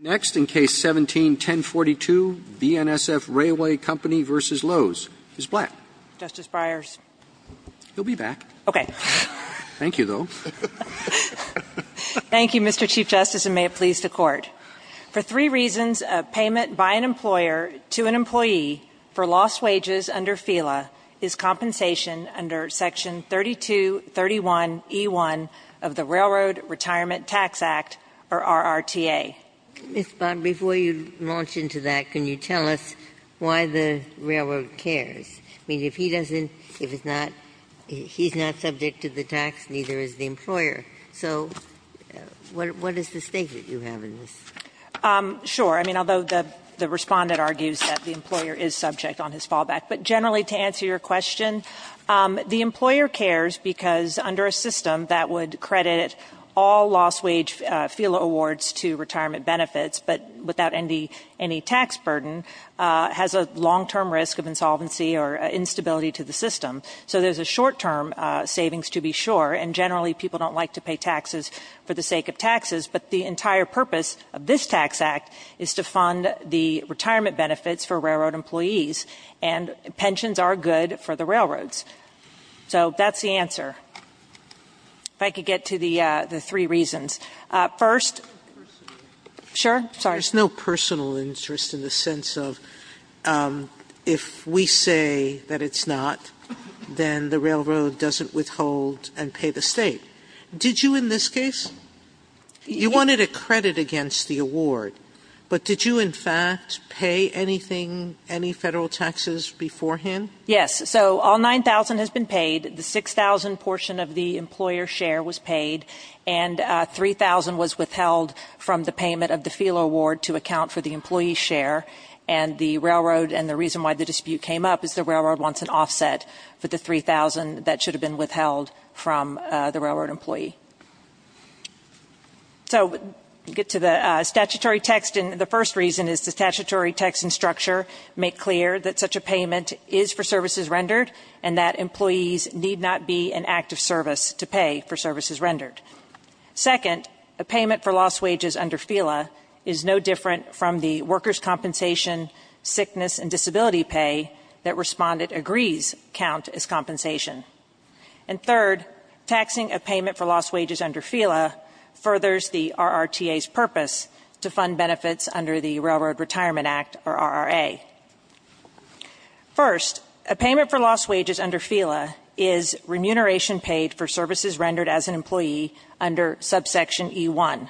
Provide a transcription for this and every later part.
Next, in Case 17-1042, BNSF R. Co. v. Loos. Ms. Black. Justice Breyers. He'll be back. Okay. Thank you, though. Thank you, Mr. Chief Justice, and may it please the Court. For three reasons, a payment by an employer to an employee for lost wages under FELA is compensation under Section 3231E1 of the Railroad Retirement Tax Act, or RRTA. Ms. Bond, before you launch into that, can you tell us why the Railroad cares? I mean, if he doesn't – if it's not – he's not subject to the tax, neither is the employer. So, what is the stake that you have in this? Sure. I mean, although the respondent argues that the employer is subject on his fallback. But generally, to answer your question, the employer cares because under a system that would credit all lost wage FELA awards to retirement benefits, but without any tax burden, has a long-term risk of insolvency or instability to the system. So, there's a short-term savings to be sure, and generally, people don't like to pay taxes for the sake of taxes. But the entire purpose of this tax act is to fund the retirement benefits for railroad employees, and pensions are good for the railroads. So, that's the answer. If I could get to the three reasons. First – There's no personal interest. Sure. Sorry. There's no personal interest in the sense of if we say that it's not, then the railroad doesn't withhold and pay the State. Did you in this case? You wanted a credit against the award, but did you in fact pay anything, any Federal taxes beforehand? Yes. So, all 9,000 has been paid. The 6,000 portion of the employer's share was paid, and 3,000 was withheld from the payment of the FELA award to account for the employee's share. And the railroad – and the reason why the dispute came up is the railroad wants an offset for the 3,000 that should have been withheld from the railroad employee. So, get to the statutory text. And the first reason is the statutory text and structure make clear that such a payment is for services rendered, and that employees need not be an act of service to pay for services rendered. Second, a payment for lost wages under FELA is no different from the workers' compensation, sickness, and disability pay that respondent agrees count as compensation. And third, taxing a payment for lost wages under FELA furthers the RRTA's purpose to fund benefits under the Railroad Retirement Act, or RRA. First, a payment for lost wages under FELA is remuneration paid for services rendered as an employee under subsection E1.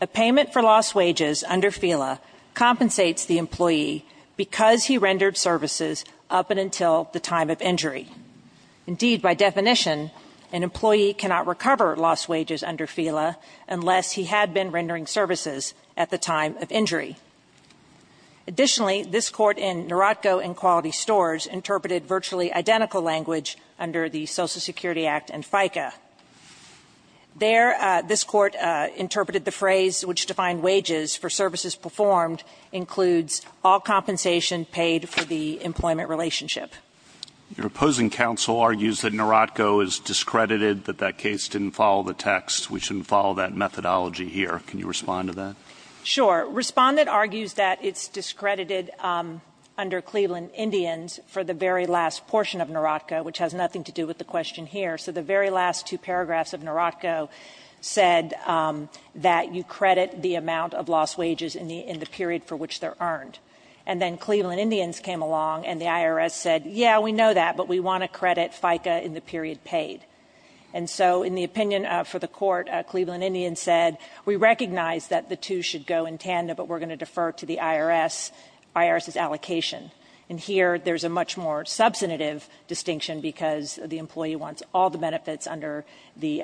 A payment for lost wages under FELA compensates the employee because he rendered services up and until the time of injury. Indeed, by definition, an employee cannot recover lost wages under FELA unless he had been rendering services at the time of injury. Additionally, this Court in Narotco and Quality Stores interpreted virtually identical language under the Social Security Act and FICA. There, this Court interpreted the phrase which defined wages for services performed includes all compensation paid for the employment relationship. Your opposing counsel argues that Narotco is discredited, that that case didn't follow the text. We shouldn't follow that methodology here. Can you respond to that? Sure. Respondent argues that it's discredited under Cleveland Indians for the very last portion of Narotco, which has nothing to do with the question here. So the very last two paragraphs of Narotco said that you credit the amount of lost wages in the period for which they're earned. And then Cleveland Indians came along and the IRS said, yeah, we know that, but we want to credit FICA in the period paid. And so in the opinion for the court, Cleveland Indians said, we recognize that the two should go in tandem, but we're going to defer to the IRS, IRS's allocation. And here, there's a much more substantive distinction because the employee wants all the benefits under the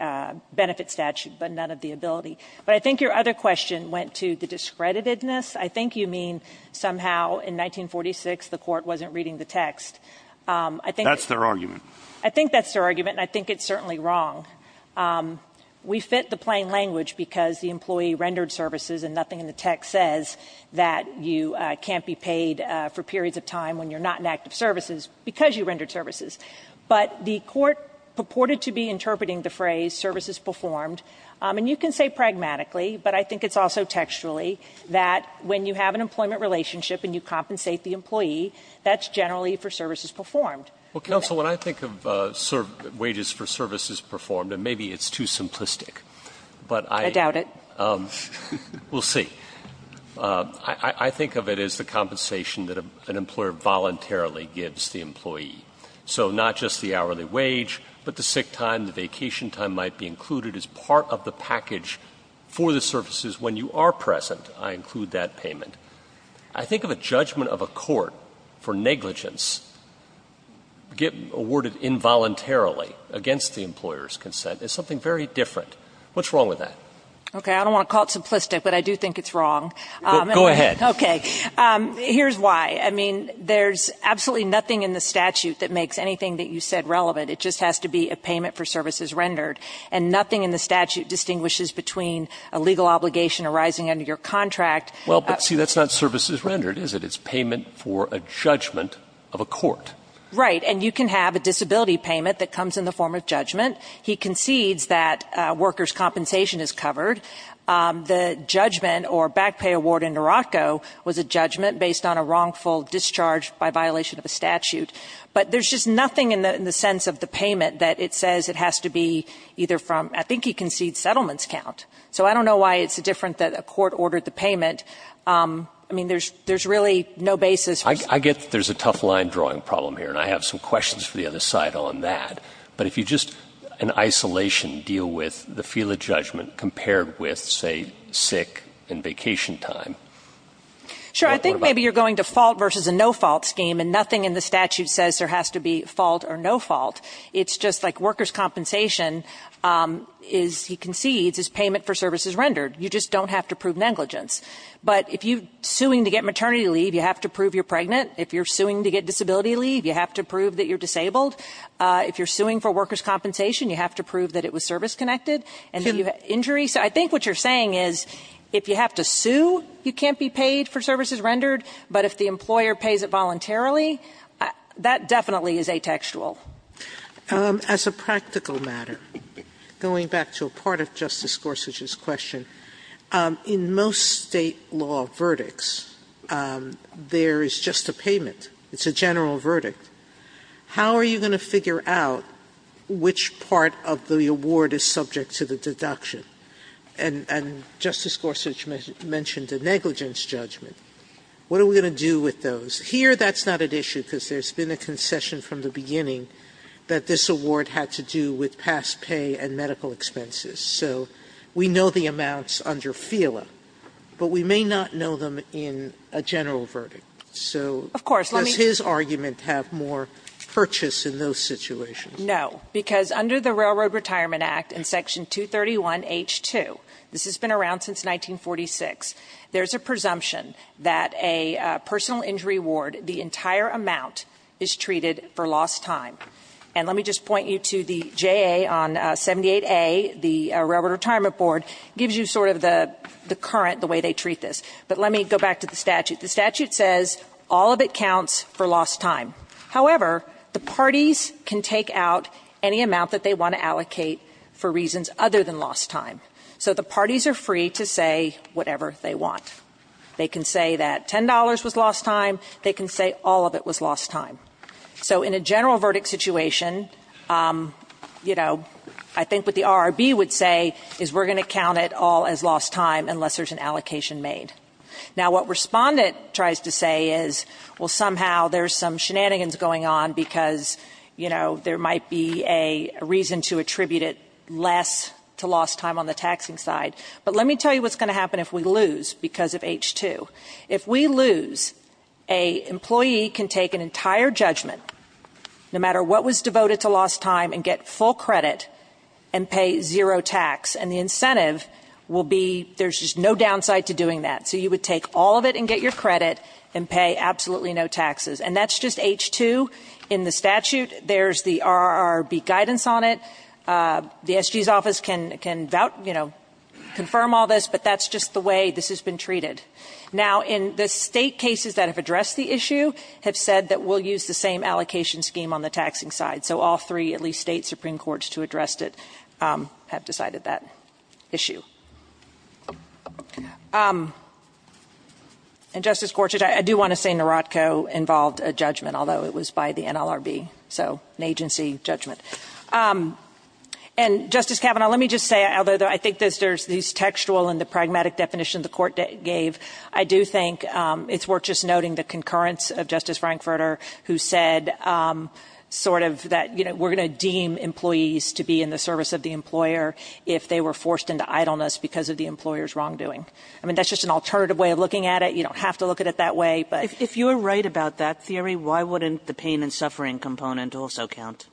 benefit statute, but none of the ability. But I think your other question went to the discreditedness. I think you mean somehow in 1946, the court wasn't reading the text. I think- That's their argument. I think that's their argument, and I think it's certainly wrong. We fit the plain language because the employee rendered services and nothing in the text says that you can't be paid for periods of time when you're not in active services because you rendered services. But the court purported to be interpreting the phrase services performed. And you can say pragmatically, but I think it's also textually that when you have an employment relationship and you compensate the employee, that's generally for services performed. Well, counsel, when I think of wages for services performed, and maybe it's too simplistic, but I- I doubt it. We'll see. I think of it as the compensation that an employer voluntarily gives the employee. So not just the hourly wage, but the sick time, the vacation time might be included as part of the package for the services when you are present. I include that payment. I think of a judgment of a court for negligence awarded involuntarily against the employer's consent as something very different. What's wrong with that? Okay. I don't want to call it simplistic, but I do think it's wrong. Go ahead. Okay. Here's why. I mean, there's absolutely nothing in the statute that makes anything that you said relevant. It just has to be a payment for services rendered. And nothing in the statute distinguishes between a legal obligation arising under your contract- Well, but see, that's not services rendered, is it? It's payment for a judgment of a court. Right. And you can have a disability payment that comes in the form of judgment. He concedes that workers' compensation is covered. The judgment or back pay award in Narocco was a judgment based on a wrongful discharge by violation of a statute. But there's just nothing in the sense of the payment that it says it has to be either from I think he concedes settlements count. So I don't know why it's different that a court ordered the payment. I mean, there's really no basis. I get that there's a tough line drawing problem here, and I have some questions for the other side on that. But if you just in isolation deal with the field of judgment compared with, say, sick and vacation time- Sure. I think maybe you're going to fault versus a no-fault scheme, and nothing in the statute says there has to be fault or no fault. It's just like workers' compensation is he concedes is payment for services rendered. You just don't have to prove negligence. But if you're suing to get maternity leave, you have to prove you're pregnant. If you're suing to get disability leave, you have to prove that you're disabled. If you're suing for workers' compensation, you have to prove that it was service-connected. And if you have injuries. So I think what you're saying is if you have to sue, you can't be paid for services rendered, but if the employer pays it voluntarily, that definitely is atextual. Sotomayor, as a practical matter, going back to a part of Justice Gorsuch's question, in most State law verdicts, there is just a payment. It's a general verdict. How are you going to figure out which part of the award is subject to the deduction? And Justice Gorsuch mentioned a negligence judgment. What are we going to do with those? Here, that's not at issue, because there's been a concession from the beginning that this award had to do with past pay and medical expenses. So we know the amounts under FELA, but we may not know them in a general verdict. So does his argument have to do with that? Or does he have more purchase in those situations? No, because under the Railroad Retirement Act in Section 231H-2, this has been around since 1946, there's a presumption that a personal injury award, the entire amount, is treated for lost time. And let me just point you to the JA on 78A, the Railroad Retirement Board, gives you sort of the current, the way they treat this. But let me go back to the statute. The statute says all of it counts for lost time. However, the parties can take out any amount that they want to allocate for reasons other than lost time. So the parties are free to say whatever they want. They can say that $10 was lost time. They can say all of it was lost time. So in a general verdict situation, you know, I think what the RRB would say is we're going to count it all as lost time unless there's an allocation made. Now, what Respondent tries to say is, well, somehow there's some shenanigans going on because, you know, there might be a reason to attribute it less to lost time on the taxing side. But let me tell you what's going to happen if we lose because of H-2. If we lose, an employee can take an entire judgment, no matter what was devoted to lost time, and get full credit and pay zero tax. And the incentive will be there's just no downside to doing that. So you would take all of it and get your credit and pay absolutely no taxes. And that's just H-2 in the statute. There's the RRB guidance on it. The SG's office can, you know, confirm all this. But that's just the way this has been treated. Now, in the state cases that have addressed the issue have said that we'll use the same allocation scheme on the taxing side. So all three, at least state Supreme Courts to address it, have decided that issue. And, Justice Gorsuch, I do want to say Narodco involved a judgment, although it was by the NLRB. So an agency judgment. And, Justice Kavanaugh, let me just say, although I think there's this textual and the pragmatic definition the Court gave, I do think it's worth just noting the concurrence of Justice Frankfurter, who said sort of that, you know, we're going to deem employees to be in the service of the employer if they were forced into idleness because of the employer's wrongdoing. I mean, that's just an alternative way of looking at it. You don't have to look at it that way, but. Kagan. If you're right about that theory, why wouldn't the pain and suffering component also count?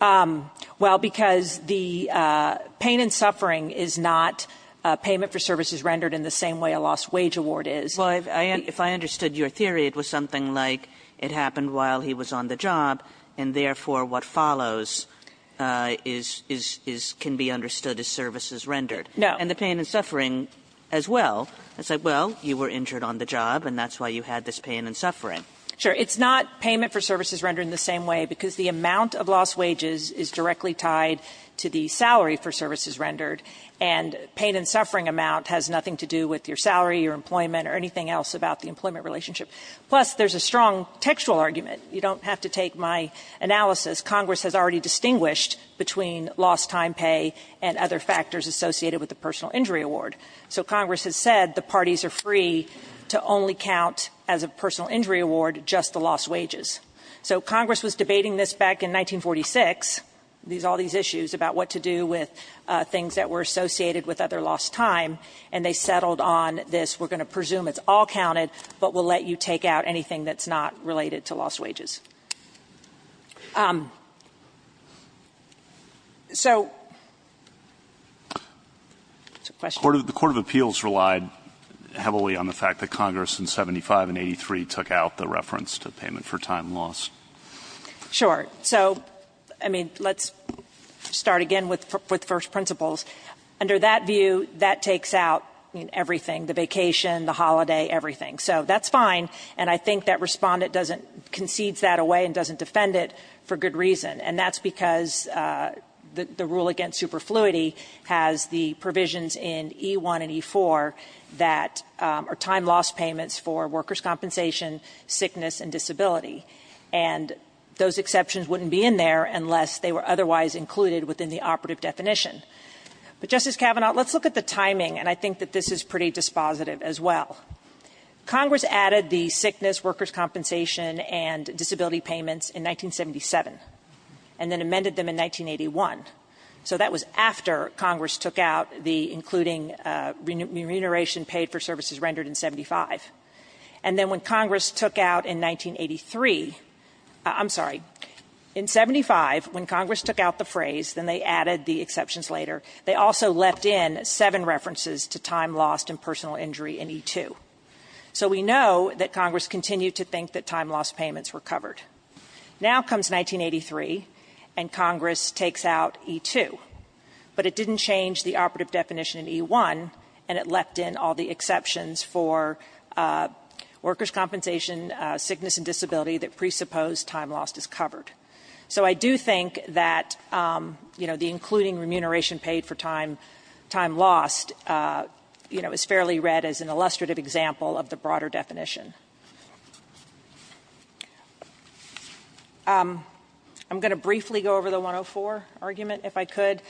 Well, because the pain and suffering is not payment for services rendered in the same way a lost wage award is. Well, if I understood your theory, it was something like it happened while he was on the job, and therefore what follows is can be understood as services rendered. No. And the pain and suffering as well. It's like, well, you were injured on the job, and that's why you had this pain and suffering. Sure. It's not payment for services rendered in the same way, because the amount of lost wages is directly tied to the salary for services rendered, and pain and suffering amount has nothing to do with your salary, your employment, or anything else about the employment relationship. Plus, there's a strong textual argument. You don't have to take my analysis. Congress has already distinguished between lost time pay and other factors associated with the personal injury award. So Congress has said the parties are free to only count as a personal injury award just the lost wages. So Congress was debating this back in 1946, all these issues about what to do with things that were associated with other lost time, and they settled on this. We're going to presume it's all counted, but we'll let you take out anything that's not related to lost wages. So question? The Court of Appeals relied heavily on the fact that Congress in 75 and 83 took out the reference to payment for time lost. Sure. So, I mean, let's start again with first principles. Under that view, that takes out, I mean, everything, the vacation, the holiday, everything. So that's fine, and I think that respondent concedes that away and doesn't defend it for good reason, and that's because the rule against superfluity has the provisions in E1 and E4 that are time lost payments for workers' compensation, sickness, and disability. And those exceptions wouldn't be in there unless they were otherwise included within the operative definition. But, Justice Kavanaugh, let's look at the timing, and I think that this is pretty dispositive as well. Congress added the sickness, workers' compensation, and disability payments in 1977, and then amended them in 1981. So that was after Congress took out the including remuneration paid for services rendered in 75. And then when Congress took out in 1983, I'm sorry, in 75, when Congress took out the phrase, then they added the exceptions later, they also left in seven references to time lost and personal injury in E2. So we know that Congress continued to think that time lost payments were covered. Now comes 1983, and Congress takes out E2, but it didn't change the operative definition in E1, and it left in all the exceptions for workers' compensation, sickness, and disability that presuppose time lost is covered. So I do think that, you know, the including remuneration paid for time lost, you know, is fairly read as an illustrative example of the broader definition. I'm going to briefly go over the 104 argument, if I could.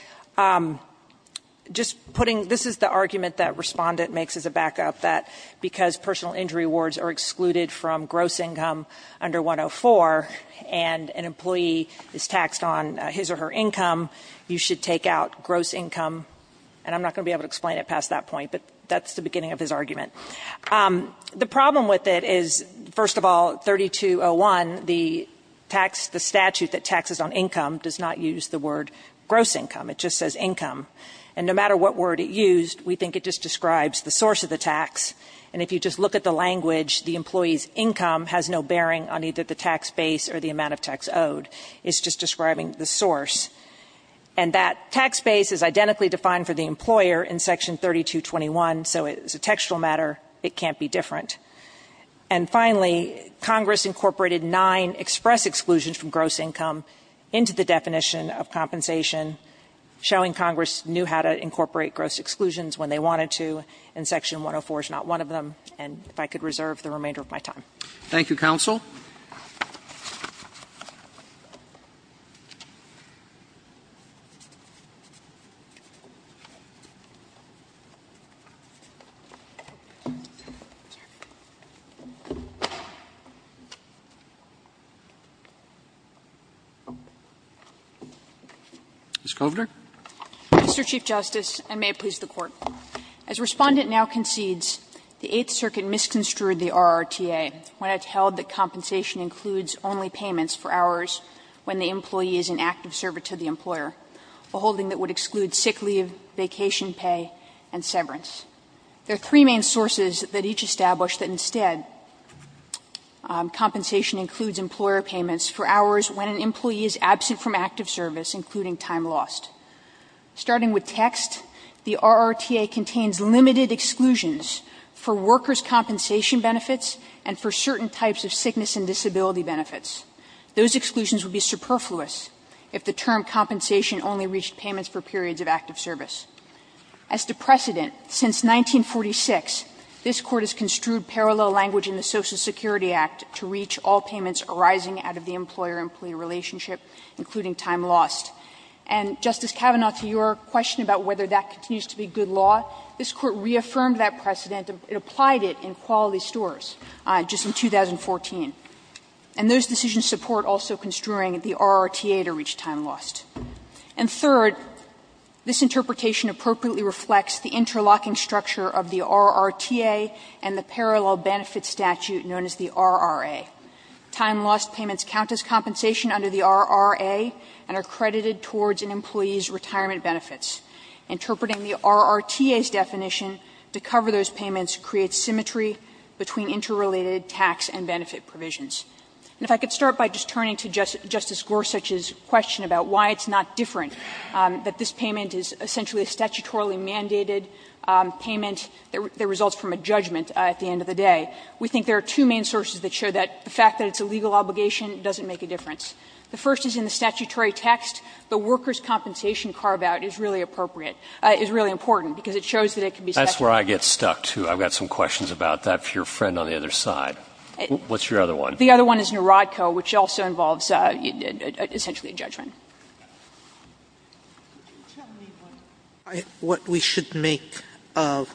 Just putting, this is the argument that Respondent makes as a backup, that because personal injury awards are excluded from gross income under 104, and an employee is taxed on his or her income, you should take out gross income. And I'm not going to be able to explain it past that point, but that's the beginning of his argument. The problem with it is, first of all, 3201, the statute that taxes on income does not use the word gross income. It just says income. And no matter what word it used, we think it just describes the source of the tax. And if you just look at the language, the employee's income has no bearing on either the tax base or the amount of tax owed. It's just describing the source. And that tax base is identically defined for the employer in Section 3221, so as a textual matter, it can't be different. And finally, Congress incorporated nine express exclusions from gross income into the definition of compensation, showing Congress knew how to incorporate gross exclusions when they wanted to, and Section 104 is not one of them. And if I could reserve the remainder of my time. Roberts. Thank you, counsel. Ms. Kovner. Kovner. Mr. Chief Justice, and may it please the Court. As Respondent now concedes, the Eighth Circuit misconstrued the RRTA when it held that compensation includes only payments for hours when the employee is in active service to the employer, a holding that would exclude sick leave, vacation pay, and severance. There are three main sources that each establish that instead compensation includes employer payments for hours when an employee is absent from active service, including time lost. Starting with text, the RRTA contains limited exclusions for workers' compensation benefits and for certain types of sickness and disability benefits. Those exclusions would be superfluous if the term compensation only reached payments for periods of active service. As to precedent, since 1946, this Court has construed parallel language in the Social Security Act to reach all payments arising out of the employer-employee relationship, including time lost. And, Justice Kavanaugh, to your question about whether that continues to be good law, this Court reaffirmed that precedent. It applied it in quality stores just in 2014. And those decisions support also construing the RRTA to reach time lost. And third, this interpretation appropriately reflects the interlocking structure of the RRTA and the parallel benefit statute known as the RRA. Time lost payments count as compensation under the RRA and are credited towards an employee's retirement benefits. Interpreting the RRTA's definition to cover those payments creates symmetry between interrelated tax and benefit provisions. And if I could start by just turning to Justice Gorsuch's question about why it's not different, that this payment is essentially a statutorily mandated payment that results from a judgment at the end of the day. We think there are two main sources that show that the fact that it's a legal obligation doesn't make a difference. The first is in the statutory text. The workers' compensation carve-out is really appropriate, is really important, because it shows that it can be statutory. Roberts. That's where I get stuck, too. I've got some questions about that for your friend on the other side. What's your other one? The other one is Narodco, which also involves essentially a judgment. Sotomayor, could you tell me what we should make of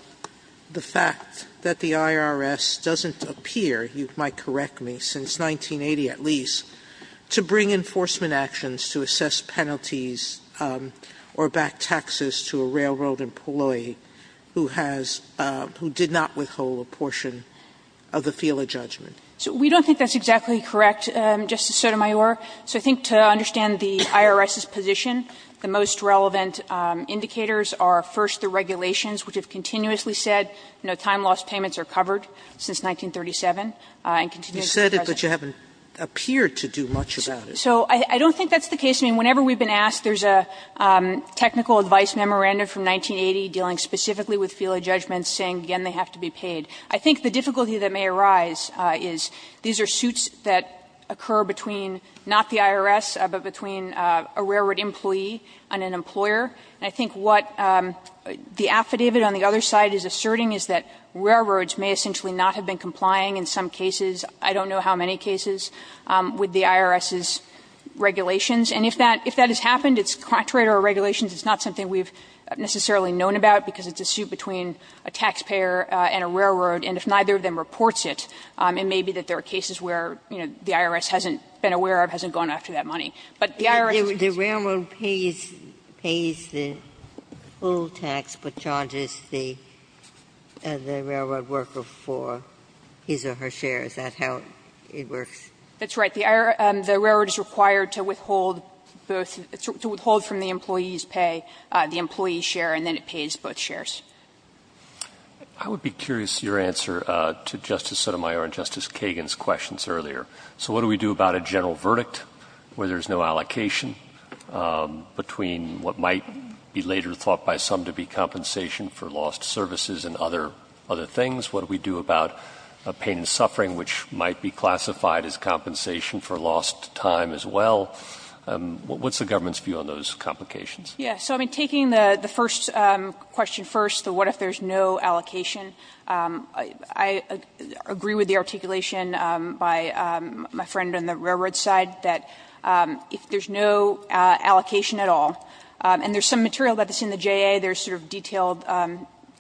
the fact that the IRS doesn't appear, you might correct me, since 1980 at least, to bring enforcement actions to assess penalties or back taxes to a railroad employee who has – who did not withhold a portion of the FILA judgment? So we don't think that's exactly correct, Justice Sotomayor. So I think to understand the IRS's position, the most relevant indicators are, first, the regulations, which have continuously said no time-loss payments are covered since 1937 and continue to be present. You said it, but you haven't appeared to do much about it. So I don't think that's the case. I mean, whenever we've been asked, there's a technical advice memorandum from 1980 dealing specifically with FILA judgments saying, again, they have to be paid. I think the difficulty that may arise is these are suits that occur between not the IRS, but between a railroad employee and an employer. And I think what the affidavit on the other side is asserting is that railroads may essentially not have been complying in some cases, I don't know how many cases, with the IRS's regulations. And if that – if that has happened, it's contrary to our regulations. It's not something we've necessarily known about because it's a suit between a taxpayer and a railroad, and if neither of them reports it, it may be that there are cases where, you know, the IRS hasn't been aware of, hasn't gone after that money. But the IRS has been aware of it. Ginsburg. The railroad pays the full tax, but charges the railroad worker for his or her share. Is that how it works? That's right. The railroad is required to withhold both – to withhold from the employee's pay the employee's share, and then it pays both shares. I would be curious, your answer to Justice Sotomayor and Justice Kagan's questions earlier. So what do we do about a general verdict where there's no allocation between what might be later thought by some to be compensation for lost services and other things? What do we do about a pain and suffering which might be classified as compensation for lost time as well? What's the government's view on those complications? Yeah. So, I mean, taking the first question first, the what if there's no allocation, I agree with the articulation by my friend on the railroad side that if there's no allocation at all, and there's some material that's in the JA, there's sort of detailed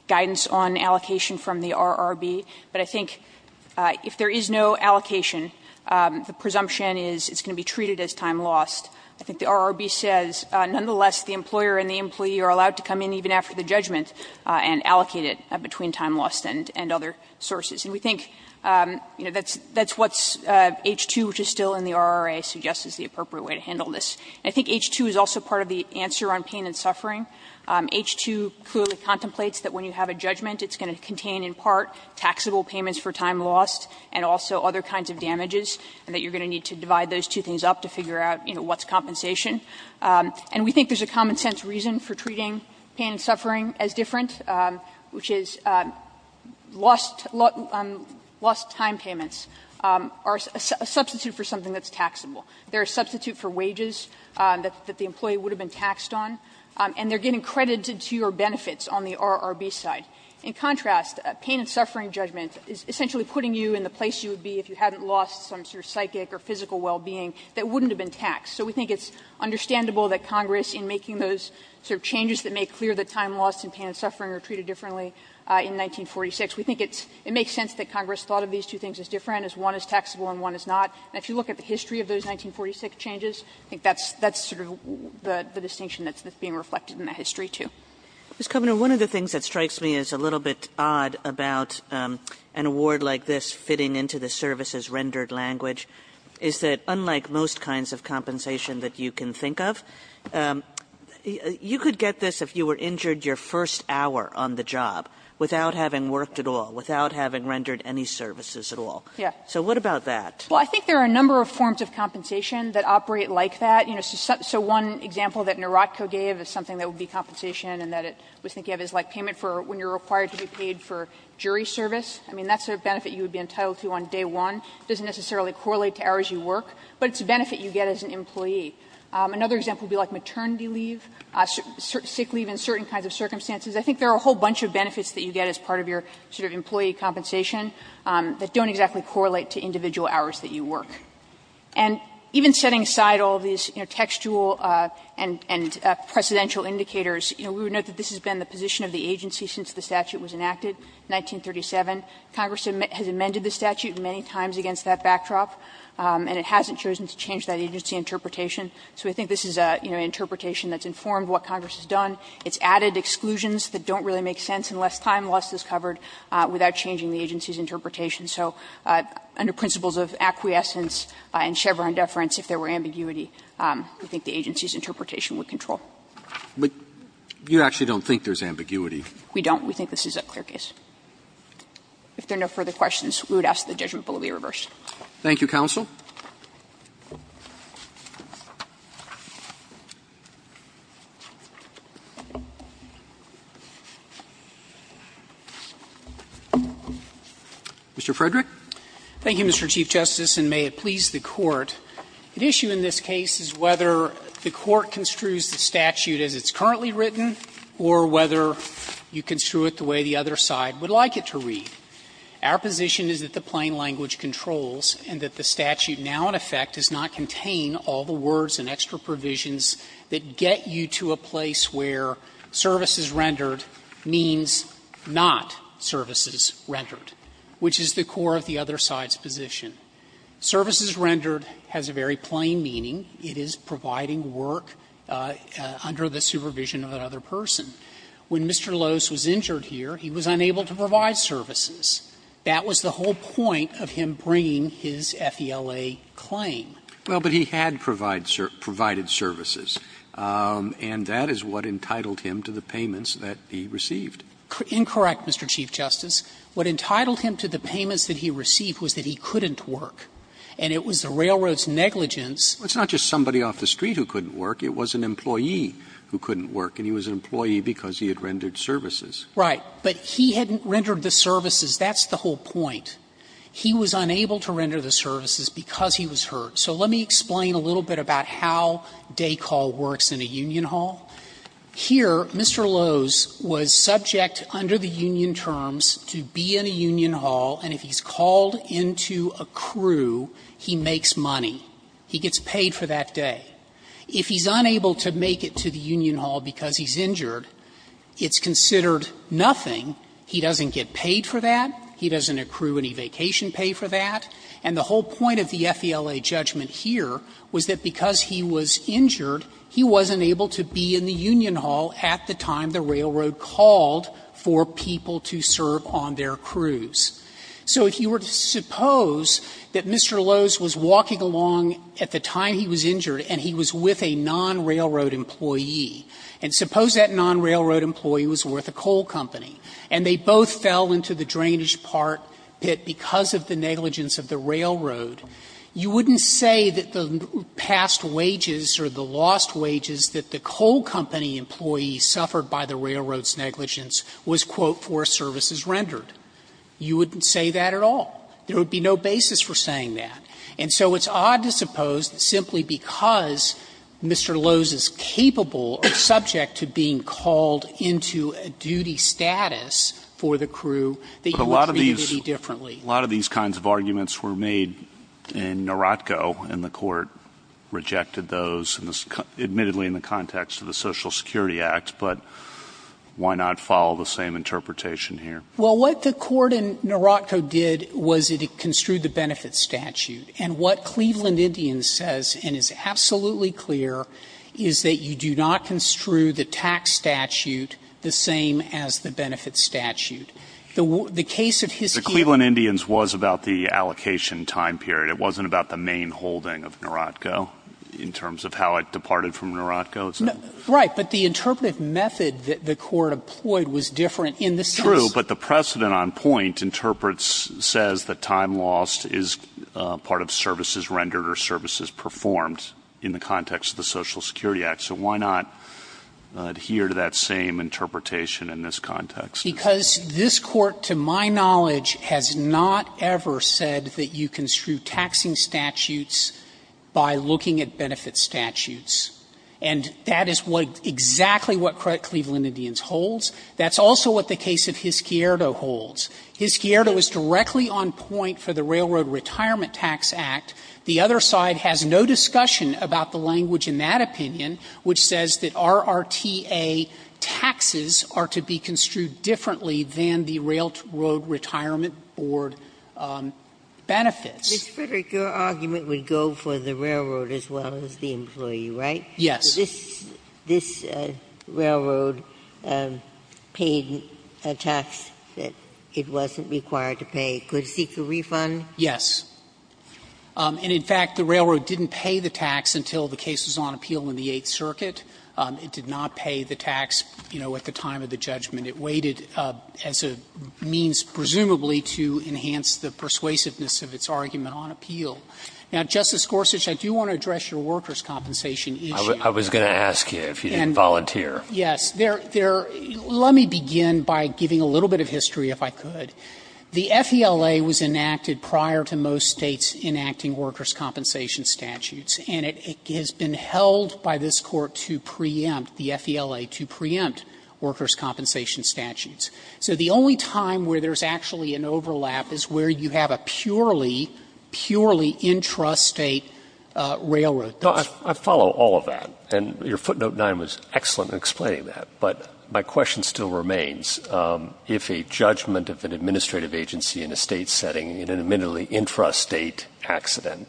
guidance on allocation from the RRB, but I think if there is no allocation, the presumption is it's going to be treated as time lost. I think the RRB says, nonetheless, the employer and the employee are allowed to come in even after the judgment and allocate it between time lost and other sources. And we think, you know, that's what's H-2, which is still in the RRA, suggests is the appropriate way to handle this. And I think H-2 is also part of the answer on pain and suffering. H-2 clearly contemplates that when you have a judgment, it's going to contain in part taxable payments for time lost and also other kinds of damages, and that is compensation. And we think there's a common-sense reason for treating pain and suffering as different, which is lost time payments are a substitute for something that's taxable. They're a substitute for wages that the employee would have been taxed on, and they're getting credited to your benefits on the RRB side. In contrast, pain and suffering judgment is essentially putting you in the place you would be if you hadn't lost some sort of psychic or physical well-being that wouldn't have been taxed. So we think it's understandable that Congress, in making those sort of changes that make clear that time lost and pain and suffering are treated differently in 1946, we think it's – it makes sense that Congress thought of these two things as different, as one is taxable and one is not. And if you look at the history of those 1946 changes, I think that's sort of the distinction that's being reflected in that history, too. Kagan. Kagan. Kagan. Kagan. Kagan. Kagan. Kagan. Kagan. Kagan. Kagan. Kagan. Kagan. Kagan. you can think of? You could get this if you were injured your first hour on the job without having worked at all, without having rendered any services at all. So what about that? Against it there are a number of forms of compensation that operate like that. You know, so one example that NARATCO gave is something that would be compensation and that it was thinking of as like payment for when you are required to be paid for jury service. I mean, that's a benefit you would be entitled to on day one. It doesn't necessarily correlate to hours you work. But it's a benefit you get as an employee. Another example would be like maternity leave, sick leave in certain kinds of circumstances. I think there are a whole bunch of benefits that you get as part of your sort of employee compensation that don't exactly correlate to individual hours that you work. And even setting aside all these, you know, textual and precedential indicators, you know, we would note that this has been the position of the agency since the statute was enacted in 1937. Congress has amended the statute many times against that backdrop. And it hasn't chosen to change that agency interpretation. So I think this is an interpretation that's informed what Congress has done. It's added exclusions that don't really make sense unless time loss is covered without changing the agency's interpretation. So under principles of acquiescence and Chevron deference, if there were ambiguity, I think the agency's interpretation would control. Roberts. But you actually don't think there's ambiguity. We don't. We think this is a clear case. If there are no further questions, we would ask that judgment bill be reversed. Thank you, counsel. Mr. Frederick. Thank you, Mr. Chief Justice, and may it please the Court. The issue in this case is whether the Court construes the statute as it's currently written or whether you construe it the way the other side would like it to read. Our position is that the plain language controls and that the statute now, in effect, does not contain all the words and extra provisions that get you to a place where services rendered means not services rendered, which is the core of the other side's position. Services rendered has a very plain meaning. It is providing work under the supervision of another person. When Mr. Lose was injured here, he was unable to provide services. That was the whole point of him bringing his FELA claim. Well, but he had provided services, and that is what entitled him to the payments that he received. Incorrect, Mr. Chief Justice. What entitled him to the payments that he received was that he couldn't work, and it was the railroad's negligence. It's not just somebody off the street who couldn't work. It was an employee who couldn't work. And he was an employee because he had rendered services. Right. But he hadn't rendered the services. That's the whole point. He was unable to render the services because he was hurt. So let me explain a little bit about how day call works in a union hall. Here, Mr. Lose was subject under the union terms to be in a union hall, and if he's called into a crew, he makes money. He gets paid for that day. If he's unable to make it to the union hall because he's injured, it's considered nothing. He doesn't get paid for that. He doesn't accrue any vacation pay for that. And the whole point of the FELA judgment here was that because he was injured, he wasn't able to be in the union hall at the time the railroad called for people to serve on their crews. So if you were to suppose that Mr. Lose was walking along at the time he was injured and he was with a non-railroad employee, and suppose that non-railroad employee was with a coal company, and they both fell into the drainage part pit because of the negligence of the railroad, you wouldn't say that the past wages or the lost wages that the coal company employee suffered by the railroad's negligence was, quote, for services rendered. You wouldn't say that at all. There would be no basis for saying that. And so it's odd to suppose simply because Mr. Lose is capable or subject to being called into a duty status for the crew, that you would treat him differently. But a lot of these kinds of arguments were made in Narotco, and the Court rejected those, admittedly in the context of the Social Security Act, but why not follow the same interpretation here? Well, what the Court in Narotco did was it construed the benefit statute. And what Cleveland Indians says, and is absolutely clear, is that you do not construe the tax statute the same as the benefit statute. The case of his case was about the allocation time period. It wasn't about the main holding of Narotco in terms of how it departed from Narotco. Right. But the interpretive method that the Court employed was different in the sense True. But the precedent on point interprets, says that time lost is part of services rendered or services performed in the context of the Social Security Act. So why not adhere to that same interpretation in this context? Because this Court, to my knowledge, has not ever said that you construe taxing statutes by looking at benefit statutes. And that is what exactly what Cleveland Indians holds. That's also what the case of Hisquierdo holds. Hisquierdo is directly on point for the Railroad Retirement Tax Act. The other side has no discussion about the language in that opinion which says that RRTA taxes are to be construed differently than the Railroad Retirement Board benefits. Ginsburg. Ginsburg. Your argument would go for the railroad as well as the employee, right? Yes. This railroad paid a tax that it wasn't required to pay. Could it seek a refund? Yes. And, in fact, the railroad didn't pay the tax until the case was on appeal in the Eighth Circuit. It did not pay the tax, you know, at the time of the judgment. It waited as a means, presumably, to enhance the persuasiveness of its argument on appeal. Now, Justice Gorsuch, I do want to address your workers' compensation issue. I was going to ask you if you didn't volunteer. Yes. There are – let me begin by giving a little bit of history, if I could. The FELA was enacted prior to most States enacting workers' compensation statutes, and it has been held by this Court to preempt, the FELA, to preempt workers' compensation statutes. So the only time where there's actually an overlap is where you have a purely, purely intrastate railroad. No, I follow all of that, and your footnote 9 was excellent in explaining that, but my question still remains. If a judgment of an administrative agency in a State setting, in an admittedly intrastate accident,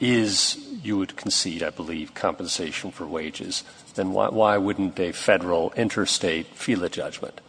is, you would concede, I believe, compensation for wages, then why wouldn't a Federal, interstate FELA judgment?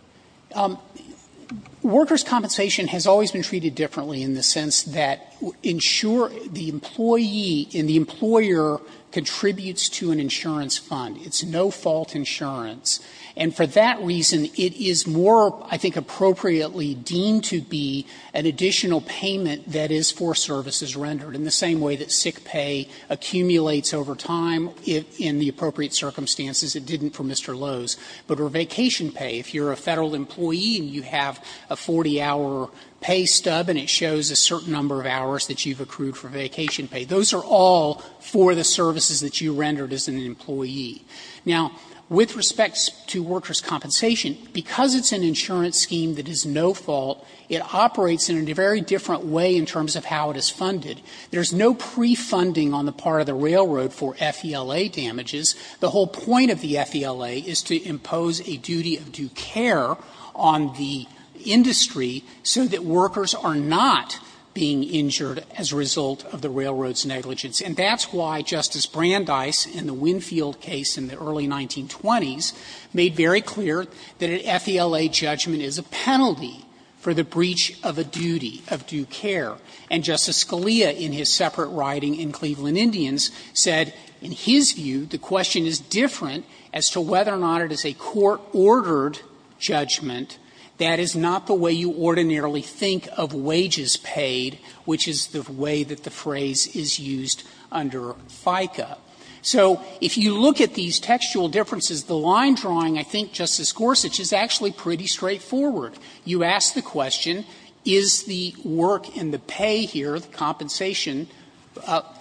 Workers' compensation has always been treated differently in the sense that ensure the employee and the employer contributes to an insurance fund. It's no-fault insurance. And for that reason, it is more, I think, appropriately deemed to be an additional payment that is for services rendered, in the same way that sick pay accumulates over time in the appropriate circumstances. It didn't for Mr. Lowe's. But for vacation pay, if you're a Federal employee and you have a 40-hour pay stub and it shows a certain number of hours that you've accrued for vacation pay, those are all for the services that you rendered as an employee. Now, with respect to workers' compensation, because it's an insurance scheme that is no-fault, it operates in a very different way in terms of how it is funded. There is no pre-funding on the part of the railroad for FELA damages. The whole point of the FELA is to impose a duty of due care on the industry so that they are not being injured as a result of the railroad's negligence. And that's why Justice Brandeis, in the Winfield case in the early 1920s, made very clear that an FELA judgment is a penalty for the breach of a duty of due care. And Justice Scalia, in his separate writing in Cleveland Indians, said, in his view, the question is different as to whether or not it is a court-ordered judgment. That is not the way you ordinarily think of wages paid, which is the way that the phrase is used under FICA. So if you look at these textual differences, the line drawing, I think, Justice Gorsuch, is actually pretty straightforward. You ask the question, is the work and the pay here, the compensation,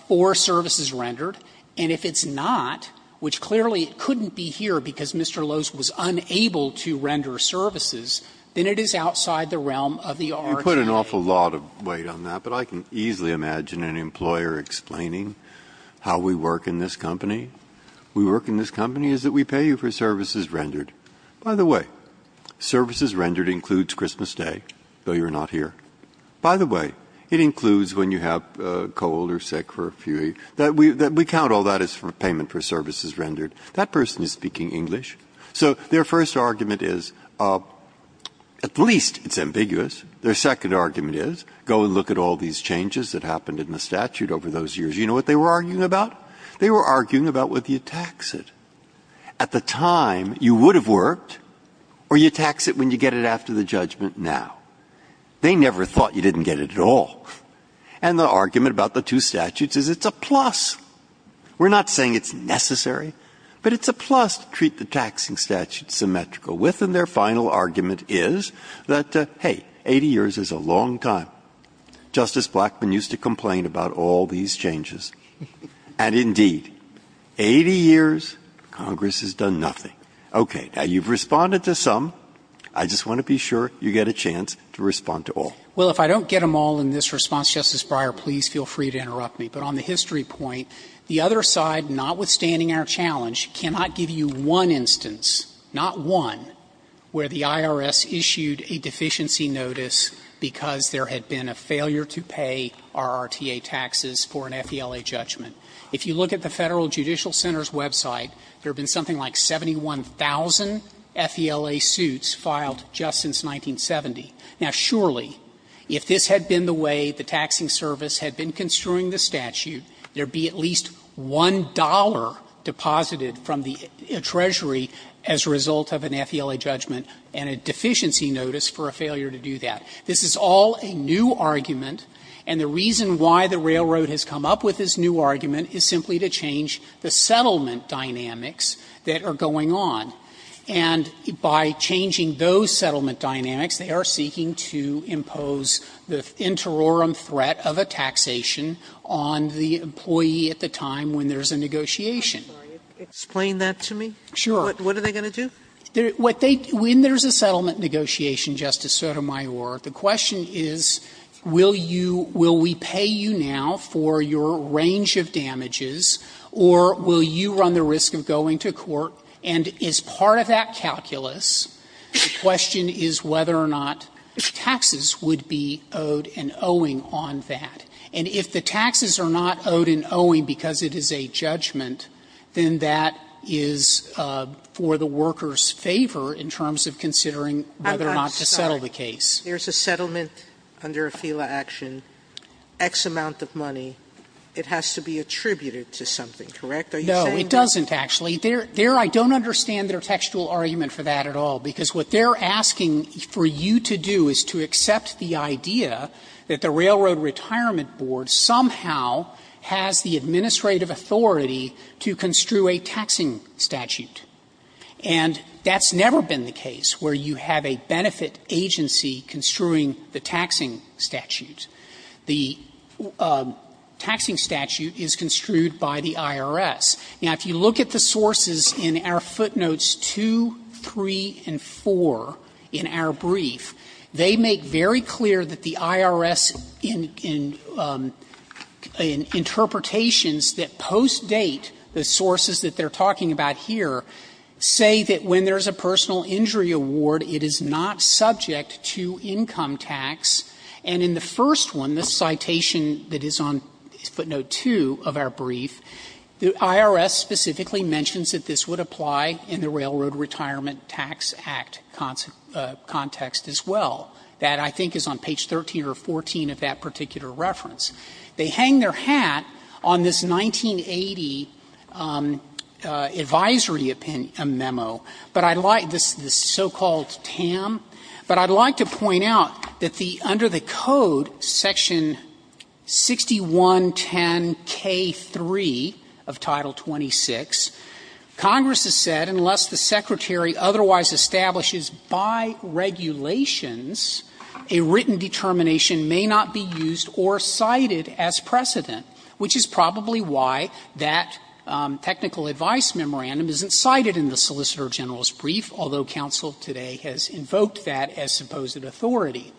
for services rendered? And if it's not, which clearly it couldn't be here because Mr. Lowe's was unable to render services, then it is outside the realm of the RTA. Breyer. You put an awful lot of weight on that, but I can easily imagine an employer explaining how we work in this company. We work in this company is that we pay you for services rendered. By the way, services rendered includes Christmas Day, though you're not here. By the way, it includes when you have a cold or sick for a few weeks. We count all that as payment for services rendered. That person is speaking English. So their first argument is, at least it's ambiguous. Their second argument is, go and look at all these changes that happened in the statute over those years. You know what they were arguing about? They were arguing about whether you tax it. At the time, you would have worked, or you tax it when you get it after the judgment now. They never thought you didn't get it at all. And the argument about the two statutes is it's a plus. We're not saying it's necessary, but it's a plus to treat the taxing statute symmetrical with. And their final argument is that, hey, 80 years is a long time. Justice Blackmun used to complain about all these changes. And indeed, 80 years, Congress has done nothing. Okay. Now, you've responded to some. I just want to be sure you get a chance to respond to all. Well, if I don't get them all in this response, Justice Breyer, please feel free to interrupt me. But on the history point, the other side, notwithstanding our challenge, cannot give you one instance, not one, where the IRS issued a deficiency notice because there had been a failure to pay RRTA taxes for an FELA judgment. If you look at the Federal Judicial Center's website, there have been something like 71,000 FELA suits filed just since 1970. Now, surely, if this had been the way the taxing service had been construing the statute, there would be at least $1 deposited from the Treasury as a result of an FELA judgment and a deficiency notice for a failure to do that. This is all a new argument, and the reason why the Railroad has come up with this new argument is simply to change the settlement dynamics that are going on. And by changing those settlement dynamics, they are seeking to impose the interorum threat of a taxation on the employee at the time when there is a negotiation. Sotomayor, explain that to me. Sure. What are they going to do? When there is a settlement negotiation, Justice Sotomayor, the question is, will you – will we pay you now for your range of damages, or will you run the risk of going to court? And as part of that calculus, the question is whether or not taxes would be owed and owing on that. And if the taxes are not owed and owing because it is a judgment, then that is for the worker's favor in terms of considering whether or not to settle the case. Sotomayor, there is a settlement under a FELA action, X amount of money. It has to be attributed to something, correct? Are you saying that? No, it doesn't, actually. There – there I don't understand their textual argument for that at all, because what they are asking for you to do is to accept the idea that the Railroad Retirement Board somehow has the administrative authority to construe a taxing statute. And that's never been the case where you have a benefit agency construing the taxing statute. The taxing statute is construed by the IRS. Now, if you look at the sources in our footnotes 2, 3, and 4 in our brief, they make very clear that the IRS in – in interpretations that post-date the sources that they are talking about here say that when there is a personal injury award, it is not subject to income tax. And in the first one, the citation that is on footnote 2 of our brief, the IRS specifically mentions that this would apply in the Railroad Retirement Tax Act context as well. That, I think, is on page 13 or 14 of that particular reference. They hang their hat on this 1980 advisory memo, but I'd like – this so-called TAM, but I'd like to point out that the – under the Code, Section 6110K3 of Title 26, Congress has said unless the Secretary otherwise establishes by regulations a written determination may not be used or cited as precedent, which is probably why that technical advice memorandum isn't cited in the Solicitor General's report, which has invoked that as supposed authority.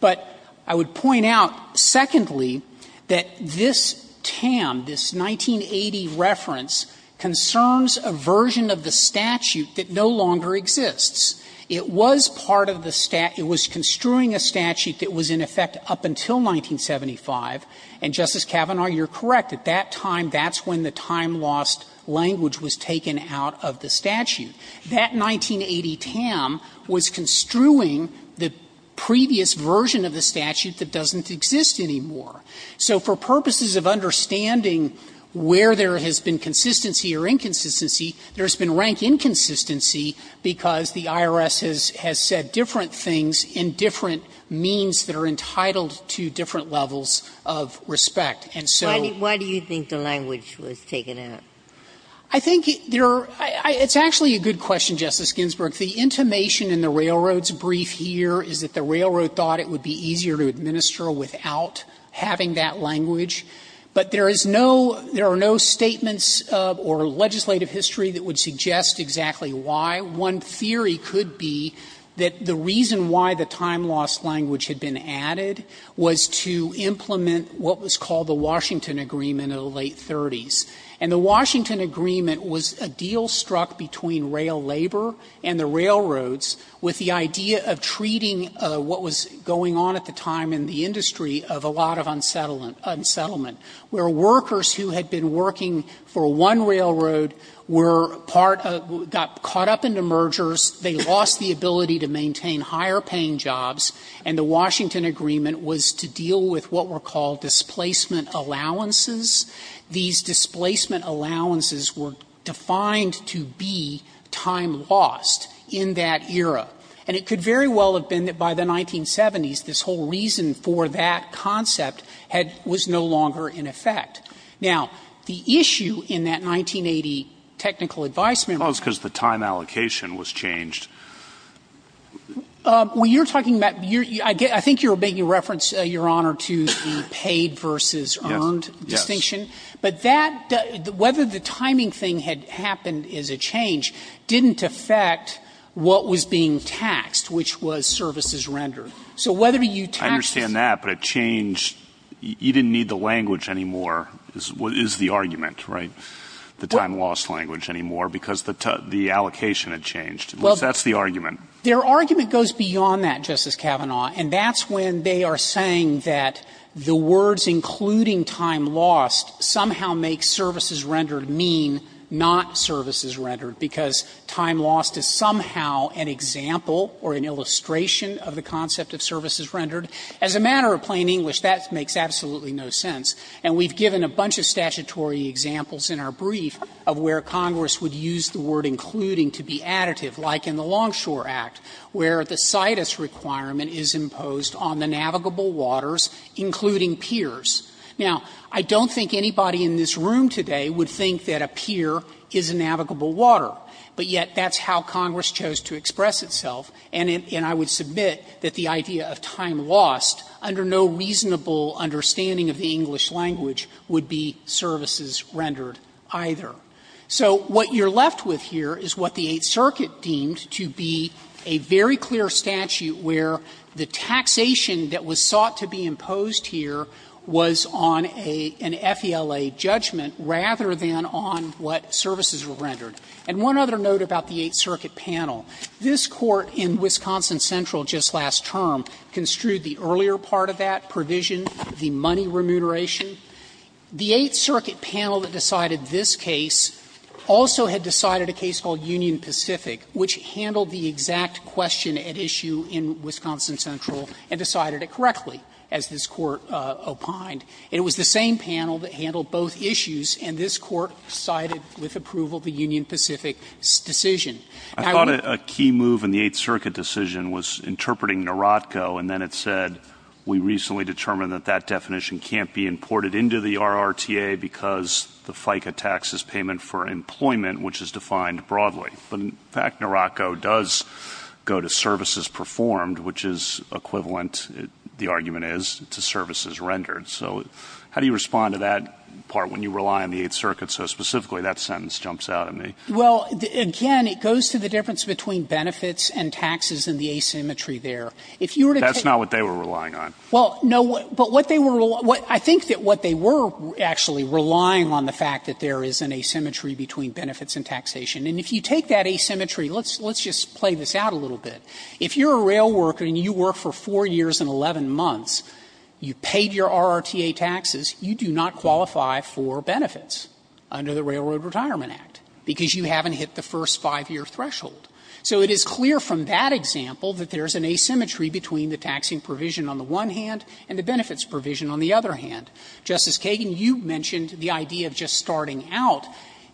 But I would point out, secondly, that this TAM, this 1980 reference, concerns a version of the statute that no longer exists. It was part of the – it was construing a statute that was in effect up until 1975, and, Justice Kavanaugh, you're correct. At that time, that's when the time-lost language was taken out of the statute. That 1980 TAM was construing the previous version of the statute that doesn't exist anymore. So for purposes of understanding where there has been consistency or inconsistency, there's been rank inconsistency because the IRS has said different things in different means that are entitled to different levels of respect. And so – Ginsburg. Why do you think the language was taken out? I think there are – it's actually a good question, Justice Ginsburg. The intimation in the Railroad's brief here is that the Railroad thought it would be easier to administer without having that language. But there is no – there are no statements or legislative history that would suggest exactly why. One theory could be that the reason why the time-lost language had been added was to implement what was called the Washington Agreement in the late 30s. And the Washington Agreement was a deal struck between rail labor and the railroads with the idea of treating what was going on at the time in the industry of a lot of unsettlement, where workers who had been working for one railroad were part of – got caught up in the mergers, they lost the ability to maintain higher-paying jobs, and the Washington Agreement was to deal with what were called displacement allowances. These displacement allowances were defined to be time lost in that era. And it could very well have been that by the 1970s, this whole reason for that concept had – was no longer in effect. Now, the issue in that 1980 technical advisement was – Well, it's because the time allocation was changed. Well, you're talking about – I think you're making reference, Your Honor, to the paid versus owned distinction. But that – whether the timing thing had happened as a change didn't affect what was being taxed, which was services rendered. So whether you taxed the – I understand that, but a change – you didn't need the language anymore, is the argument, right, the time lost language anymore, because the allocation had changed. That's the argument. Their argument goes beyond that, Justice Kavanaugh, and that's when they are saying that the words including time lost somehow make services rendered mean not services rendered, because time lost is somehow an example or an illustration of the concept of services rendered. As a matter of plain English, that makes absolutely no sense. And we've given a bunch of statutory examples in our brief of where Congress would use the word including to be additive, like in the Longshore Act, where the language was used to refer to navigable waters, including piers. Now, I don't think anybody in this room today would think that a pier is a navigable water, but yet that's how Congress chose to express itself, and I would submit that the idea of time lost under no reasonable understanding of the English language would be services rendered either. So what you're left with here is what the Eighth Circuit deemed to be a very clear statute where the taxation that was sought to be imposed here was on a FELA judgment rather than on what services were rendered. And one other note about the Eighth Circuit panel. This Court in Wisconsin Central just last term construed the earlier part of that provision, the money remuneration. The Eighth Circuit panel that decided this case also had decided a case called Union Pacific, which handled the exact question at issue in Wisconsin Central and decided it correctly, as this Court opined. It was the same panel that handled both issues, and this Court sided with approval of the Union Pacific decision. Now, we're going to go to the Court of Appeals, and we're going to go to the Court of Appeals. I thought a key move in the Eighth Circuit decision was interpreting NAROTCO, and then it said, we recently determined that that definition can't be imported into the RRTA because the FICA tax is payment for employment, which is defined broadly. But in fact, NAROTCO does go to services performed, which is equivalent, the argument is, to services rendered. So how do you respond to that part when you rely on the Eighth Circuit? So specifically, that sentence jumps out at me. Well, again, it goes to the difference between benefits and taxes and the asymmetry If you were to take the case of the Eighth Circuit, that's not what they were relying on. Well, no, but what they were relying – I think that what they were actually relying on, the fact that there is an asymmetry between benefits and taxation. And if you take that asymmetry, let's just play this out a little bit. If you're a rail worker and you work for 4 years and 11 months, you paid your RRTA taxes, you do not qualify for benefits under the Railroad Retirement Act because you haven't hit the first 5-year threshold. So it is clear from that example that there is an asymmetry between the taxing provision on the one hand and the benefits provision on the other hand. Justice Kagan, you mentioned the idea of just starting out.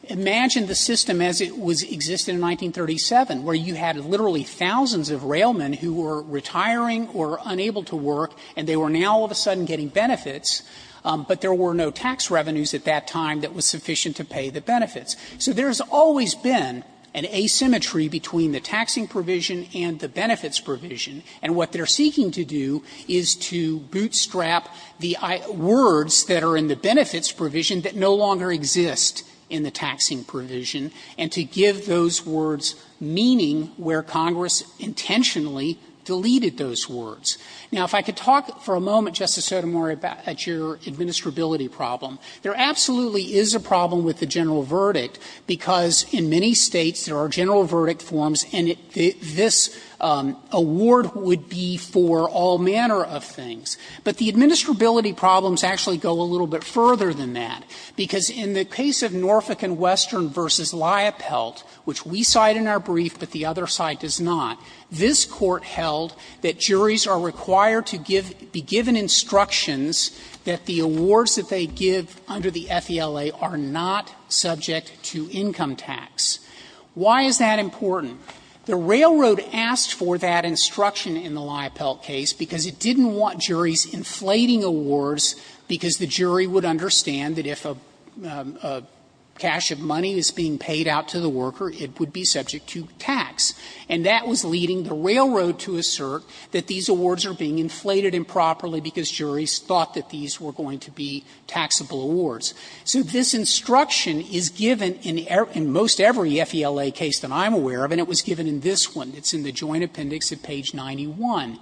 Imagine the system as it was existed in 1937, where you had literally thousands of railmen who were retiring or unable to work, and they were now all of a sudden getting benefits, but there were no tax revenues at that time that was sufficient to pay the benefits. So there has always been an asymmetry between the taxing provision and the benefits provision. And what they're seeking to do is to bootstrap the words that are in the benefits provision that no longer exist in the taxing provision, and to give those words meaning where Congress intentionally deleted those words. Now, if I could talk for a moment, Justice Sotomayor, about your administrability problem. There absolutely is a problem with the general verdict, because in many States there are general verdict forms, and this award would be for all manner of things. But the administrability problems actually go a little bit further than that, because in the case of Norfolk and Western v. Liopelt, which we cite in our brief but the other side does not, this Court held that juries are required to give be given instructions that the awards that they give under the FELA are not subject to income tax. Why is that important? The railroad asked for that instruction in the Liopelt case because it didn't want juries inflating awards because the jury would understand that if a cash of money is being paid out to the worker, it would be subject to tax. And that was leading the railroad to assert that these awards are being inflated improperly because juries thought that these were going to be taxable awards. So this instruction is given in most every FELA case that I'm aware of, and it was given in this one. It's in the Joint Appendix at page 91.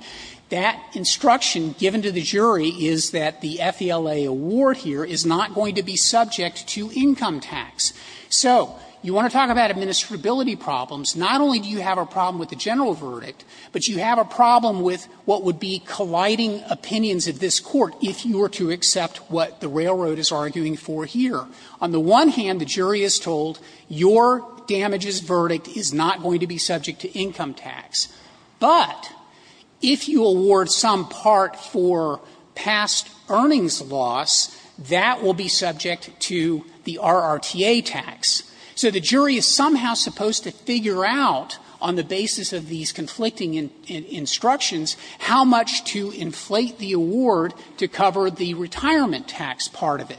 That instruction given to the jury is that the FELA award here is not going to be subject to income tax. So you want to talk about administrability problems. Not only do you have a problem with the general verdict, but you have a problem with what would be colliding opinions of this Court if you were to accept what the jury is asking for here. On the one hand, the jury is told your damages verdict is not going to be subject to income tax, but if you award some part for past earnings loss, that will be subject to the RRTA tax. So the jury is somehow supposed to figure out, on the basis of these conflicting instructions, how much to inflate the award to cover the retirement tax part of it.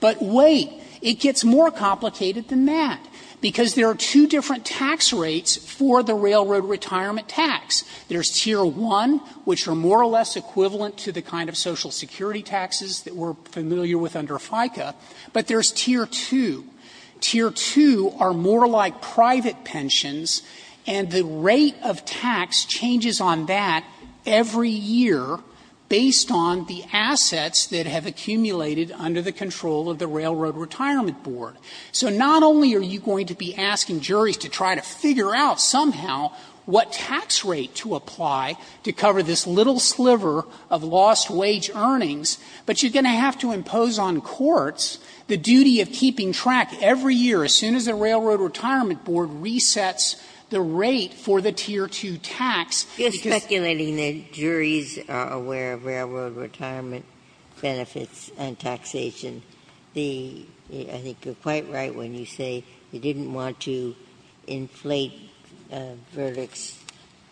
But wait, it gets more complicated than that, because there are two different tax rates for the railroad retirement tax. There's Tier 1, which are more or less equivalent to the kind of Social Security taxes that we're familiar with under FICA, but there's Tier 2. Tier 2 are more like private pensions, and the rate of tax changes on that every year based on the assets that have accumulated under the control of the Railroad Retirement Board. So not only are you going to be asking juries to try to figure out somehow what tax rate to apply to cover this little sliver of lost wage earnings, but you're going to have to impose on courts the duty of keeping track every year, as soon as the Railroad Retirement Board resets the rate for the Tier 2 tax, because the jury is going to be concerned. Ginsburg's point is that if a jury is aware of railroad retirement benefits and taxation, the – I think you're quite right when you say you didn't want to inflate verdicts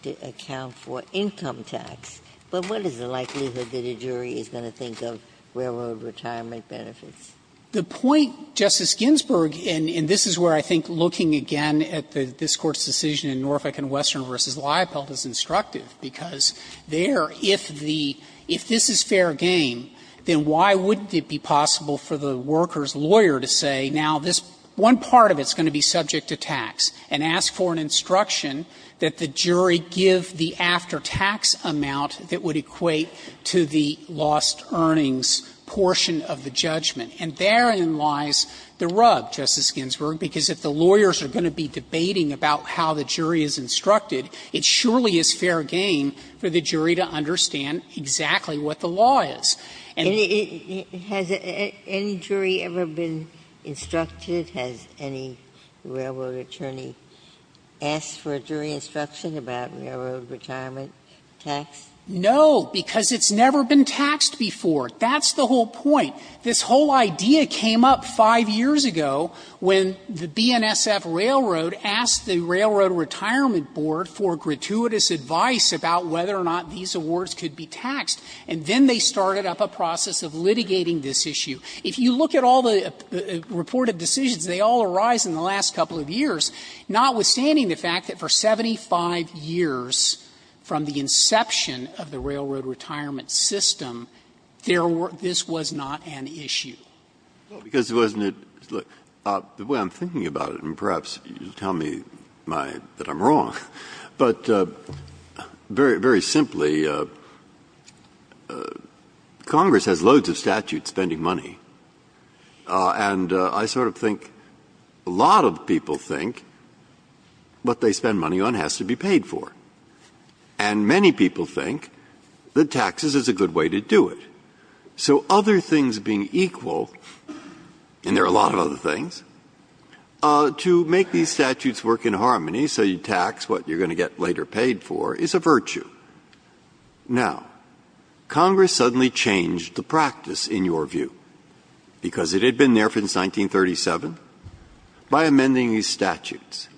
to account for income tax. But what is the likelihood that a jury is going to think of railroad retirement benefits? The point, Justice Ginsburg, and this is where I think looking again at this Court's decision in Norfolk v. Western v. Liepald is instructive, because they're, in my view, instructive. If the – if this is fair game, then why wouldn't it be possible for the worker's lawyer to say, now, this one part of it's going to be subject to tax, and ask for an instruction that the jury give the after-tax amount that would equate to the lost earnings portion of the judgment. And therein lies the rub, Justice Ginsburg, because if the lawyers are going to be debating about how the jury is instructed, it surely is fair game for the jury to understand exactly what the law is. And the – Ginsburg. Has any jury ever been instructed? Has any railroad attorney asked for a jury instruction about railroad retirement tax? Frederick. No, because it's never been taxed before. That's the whole point. This whole idea came up 5 years ago when the BNSF Railroad asked the Railroad Retirement Board for gratuitous advice about whether or not these awards could be taxed. And then they started up a process of litigating this issue. If you look at all the reported decisions, they all arise in the last couple of years, notwithstanding the fact that for 75 years from the inception of the railroad retirement system, there were – this was not an issue. Breyer. Because wasn't it – look, the way I'm thinking about it, and perhaps you tell me my – that I'm wrong, but very, very simply, Congress has loads of statutes spending money, and I sort of think a lot of people think what they spend money on has to be paid for. And many people think that taxes is a good way to do it. So other things being equal, and there are a lot of other things, to make these statutes work in harmony, so you tax what you're going to get later paid for, is a virtue. Now, Congress suddenly changed the practice, in your view, because it had been there since 1937, by amending these statutes.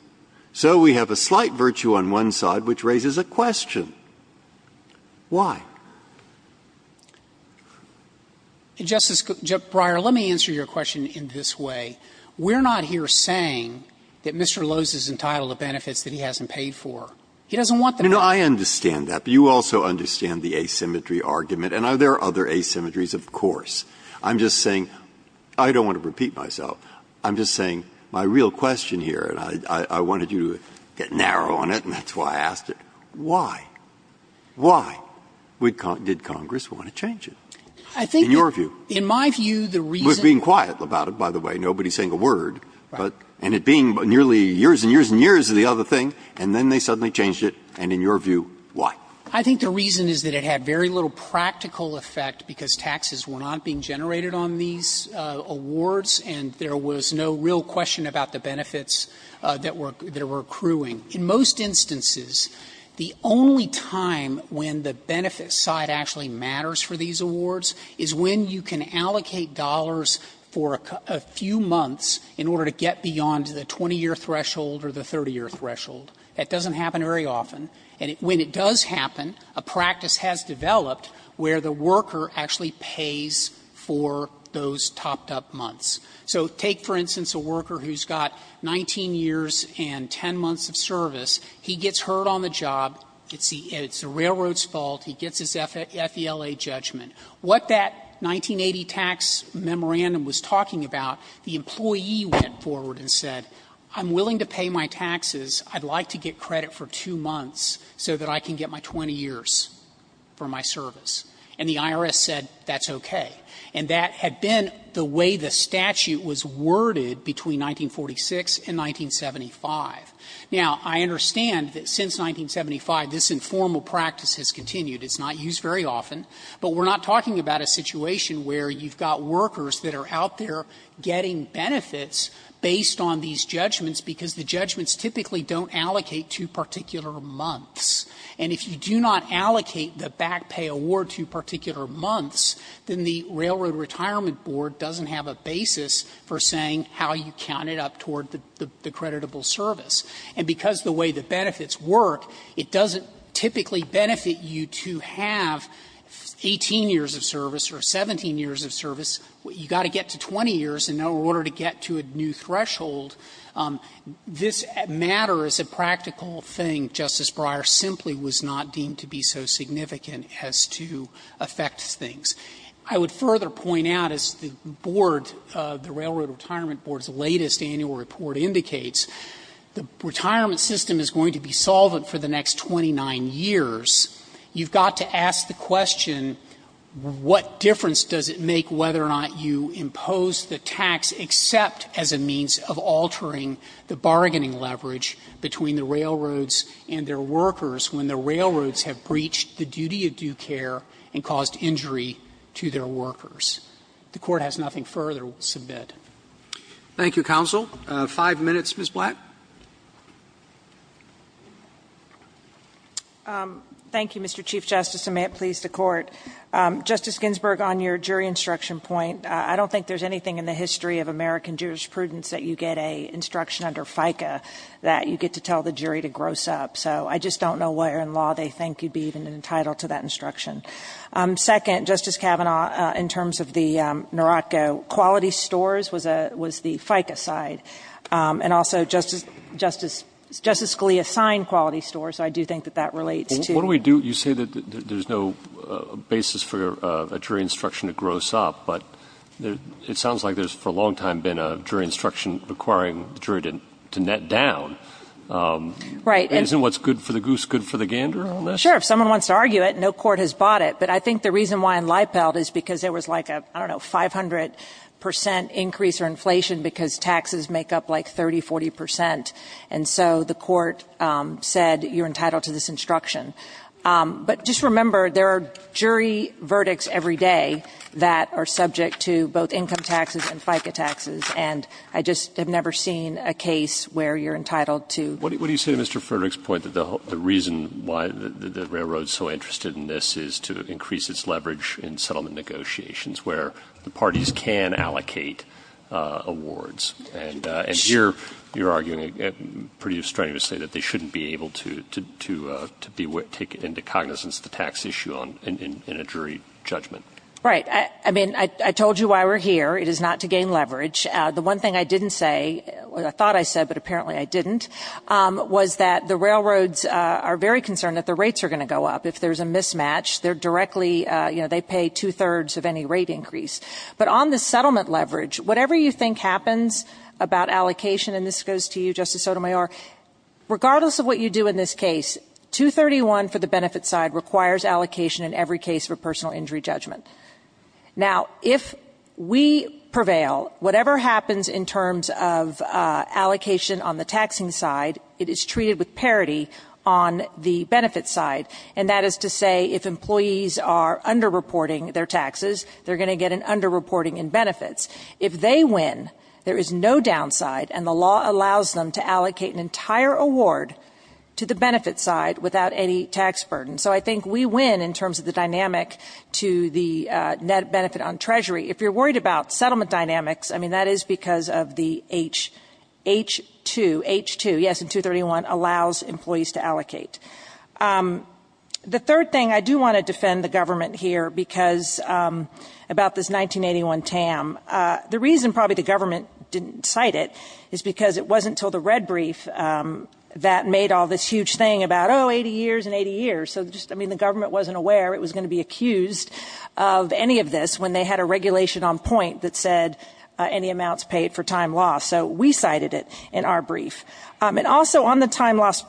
So we have a slight virtue on one side, which raises a question. Why? Frederick, Justice Breyer, let me answer your question in this way. We're not here saying that Mr. Lowe's is entitled to benefits that he hasn't paid for. He doesn't want that. Breyer, I understand that, but you also understand the asymmetry argument. And there are other asymmetries, of course. I'm just saying – I don't want to repeat myself. I'm just saying my real question here, and I wanted you to get narrow on it, and that's why I asked it. Why? Why did Congress want to change it? In your view? Frederick, Justice Breyer, in my view, the reason – Breyer, you're being quiet about it, by the way. Nobody is saying a word. And it being nearly years and years and years of the other thing, and then they suddenly changed it. And in your view, why? Frederick, Justice Breyer, I think the reason is that it had very little practical effect, because taxes were not being generated on these awards, and there was no real question about the benefits that were accruing. In most instances, the only time when the benefits side actually matters for these awards is when you can allocate dollars for a few months in order to get beyond the 20-year threshold or the 30-year threshold. That doesn't happen very often. And when it does happen, a practice has developed where the worker actually pays for those topped-up months. So take, for instance, a worker who's got 19 years and 10 months of service. He gets hurt on the job. It's the railroad's fault. He gets his FELA judgment. What that 1980 tax memorandum was talking about, the employee went forward and said, I'm willing to pay my taxes. I'd like to get credit for two months so that I can get my 20 years for my service. And the IRS said, that's okay. And that had been the way the statute was worded between 1946 and 1975. Now, I understand that since 1975, this informal practice has continued. It's not used very often. But we're not talking about a situation where you've got workers that are out there getting benefits based on these judgments, because the judgments typically don't allocate to particular months. And if you do not allocate the back pay award to particular months, then the Railroad Retirement Board doesn't have a basis for saying how you counted up toward the creditable service. And because of the way the benefits work, it doesn't typically benefit you to have 18 years of service or 17 years of service. You've got to get to 20 years in order to get to a new threshold. This matter is a practical thing. Justice Breyer simply was not deemed to be so significant as to affect things. I would further point out, as the Board, the Railroad Retirement Board's latest annual report indicates, the retirement system is going to be solvent for the next 29 years. You've got to ask the question, what difference does it make whether or not you impose the tax except as a means of altering the bargaining leverage between the railroads and their workers when the railroads have breached the duty of due care and caused injury to their workers? The Court has nothing further to submit. Roberts. Thank you, counsel. Five minutes, Ms. Black. Thank you, Mr. Chief Justice, and may it please the Court. Justice Ginsburg, on your jury instruction point, I don't think there's anything in the history of American jurisprudence that you get an instruction under FICA that you get to tell the jury to gross up. So I just don't know where in law they think you'd be even entitled to that instruction. Second, Justice Kavanaugh, in terms of the Narocco quality stores was the FICA side. And also, Justice Scalia signed quality stores, so I do think that that relates to What do we do? You say that there's no basis for a jury instruction to gross up. But it sounds like there's, for a long time, been a jury instruction requiring the jury to net down. Right. Isn't what's good for the goose good for the gander on this? Sure. If someone wants to argue it, no court has bought it. But I think the reason why in Lippelt is because there was like a, I don't know, 500% increase or inflation because taxes make up like 30%, 40%. And so the court said you're entitled to this instruction. But just remember, there are jury verdicts every day that are subject to both income taxes and FICA taxes, and I just have never seen a case where you're entitled to What do you say to Mr. Frederick's point that the reason why the railroad is so interested in this is to increase its leverage in settlement negotiations where the parties can allocate awards? And you're arguing pretty strenuously that they shouldn't be able to take into cognizance the tax issue in a jury judgment. Right. I mean, I told you why we're here. It is not to gain leverage. The one thing I didn't say, I thought I said, but apparently I didn't, was that the railroads are very concerned that the rates are going to go up. If there's a mismatch, they're directly, you know, they pay two-thirds of any rate increase. But on the settlement leverage, whatever you think happens about allocation, and this goes to you, Justice Sotomayor, regardless of what you do in this case, 231 for the benefit side requires allocation in every case for personal injury judgment. Now, if we prevail, whatever happens in terms of allocation on the taxing side, it is treated with parity on the benefit side. And that is to say, if employees are underreporting their taxes, they're going to get an underreporting in benefits. If they win, there is no downside, and the law allows them to allocate an entire award to the benefit side without any tax burden. So I think we win in terms of the dynamic to the net benefit on treasury. If you're worried about settlement dynamics, I mean, that is because of the H2, H2, yes, and 231 allows employees to allocate. The third thing, I do want to defend the government here because about this 1981 TAM, the reason probably the government didn't cite it is because it wasn't until the red brief that made all this huge thing about, oh, 80 years and 80 years. So just, I mean, the government wasn't aware it was going to be accused of any of this when they had a regulation on point that said any amounts paid for time loss. So we cited it in our brief. And also on the time loss,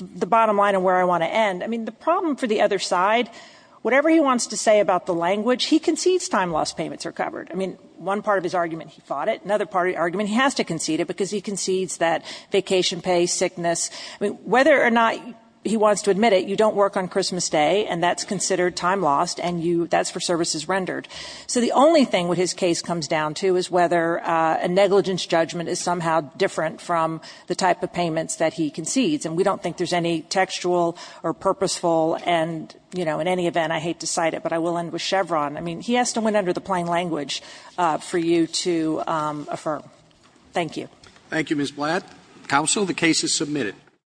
the bottom line of where I want to end, I mean, the problem for the other side, whatever he wants to say about the language, he concedes time loss payments are covered. I mean, one part of his argument, he fought it. Another part of the argument, he has to concede it because he concedes that vacation pay, sickness, I mean, whether or not he wants to admit it, you don't work on Christmas day and that's considered time lost and you, that's for services rendered. So the only thing with his case comes down to is whether a negligence judgment is somehow different from the type of payments that he concedes. And we don't think there's any textual or purposeful and, you know, in any event, I hate to cite it, but I will end with Chevron. I mean, he asked him when under the plain language for you to affirm. Thank you. Thank you, Ms. Blatt. Counsel, the case is submitted.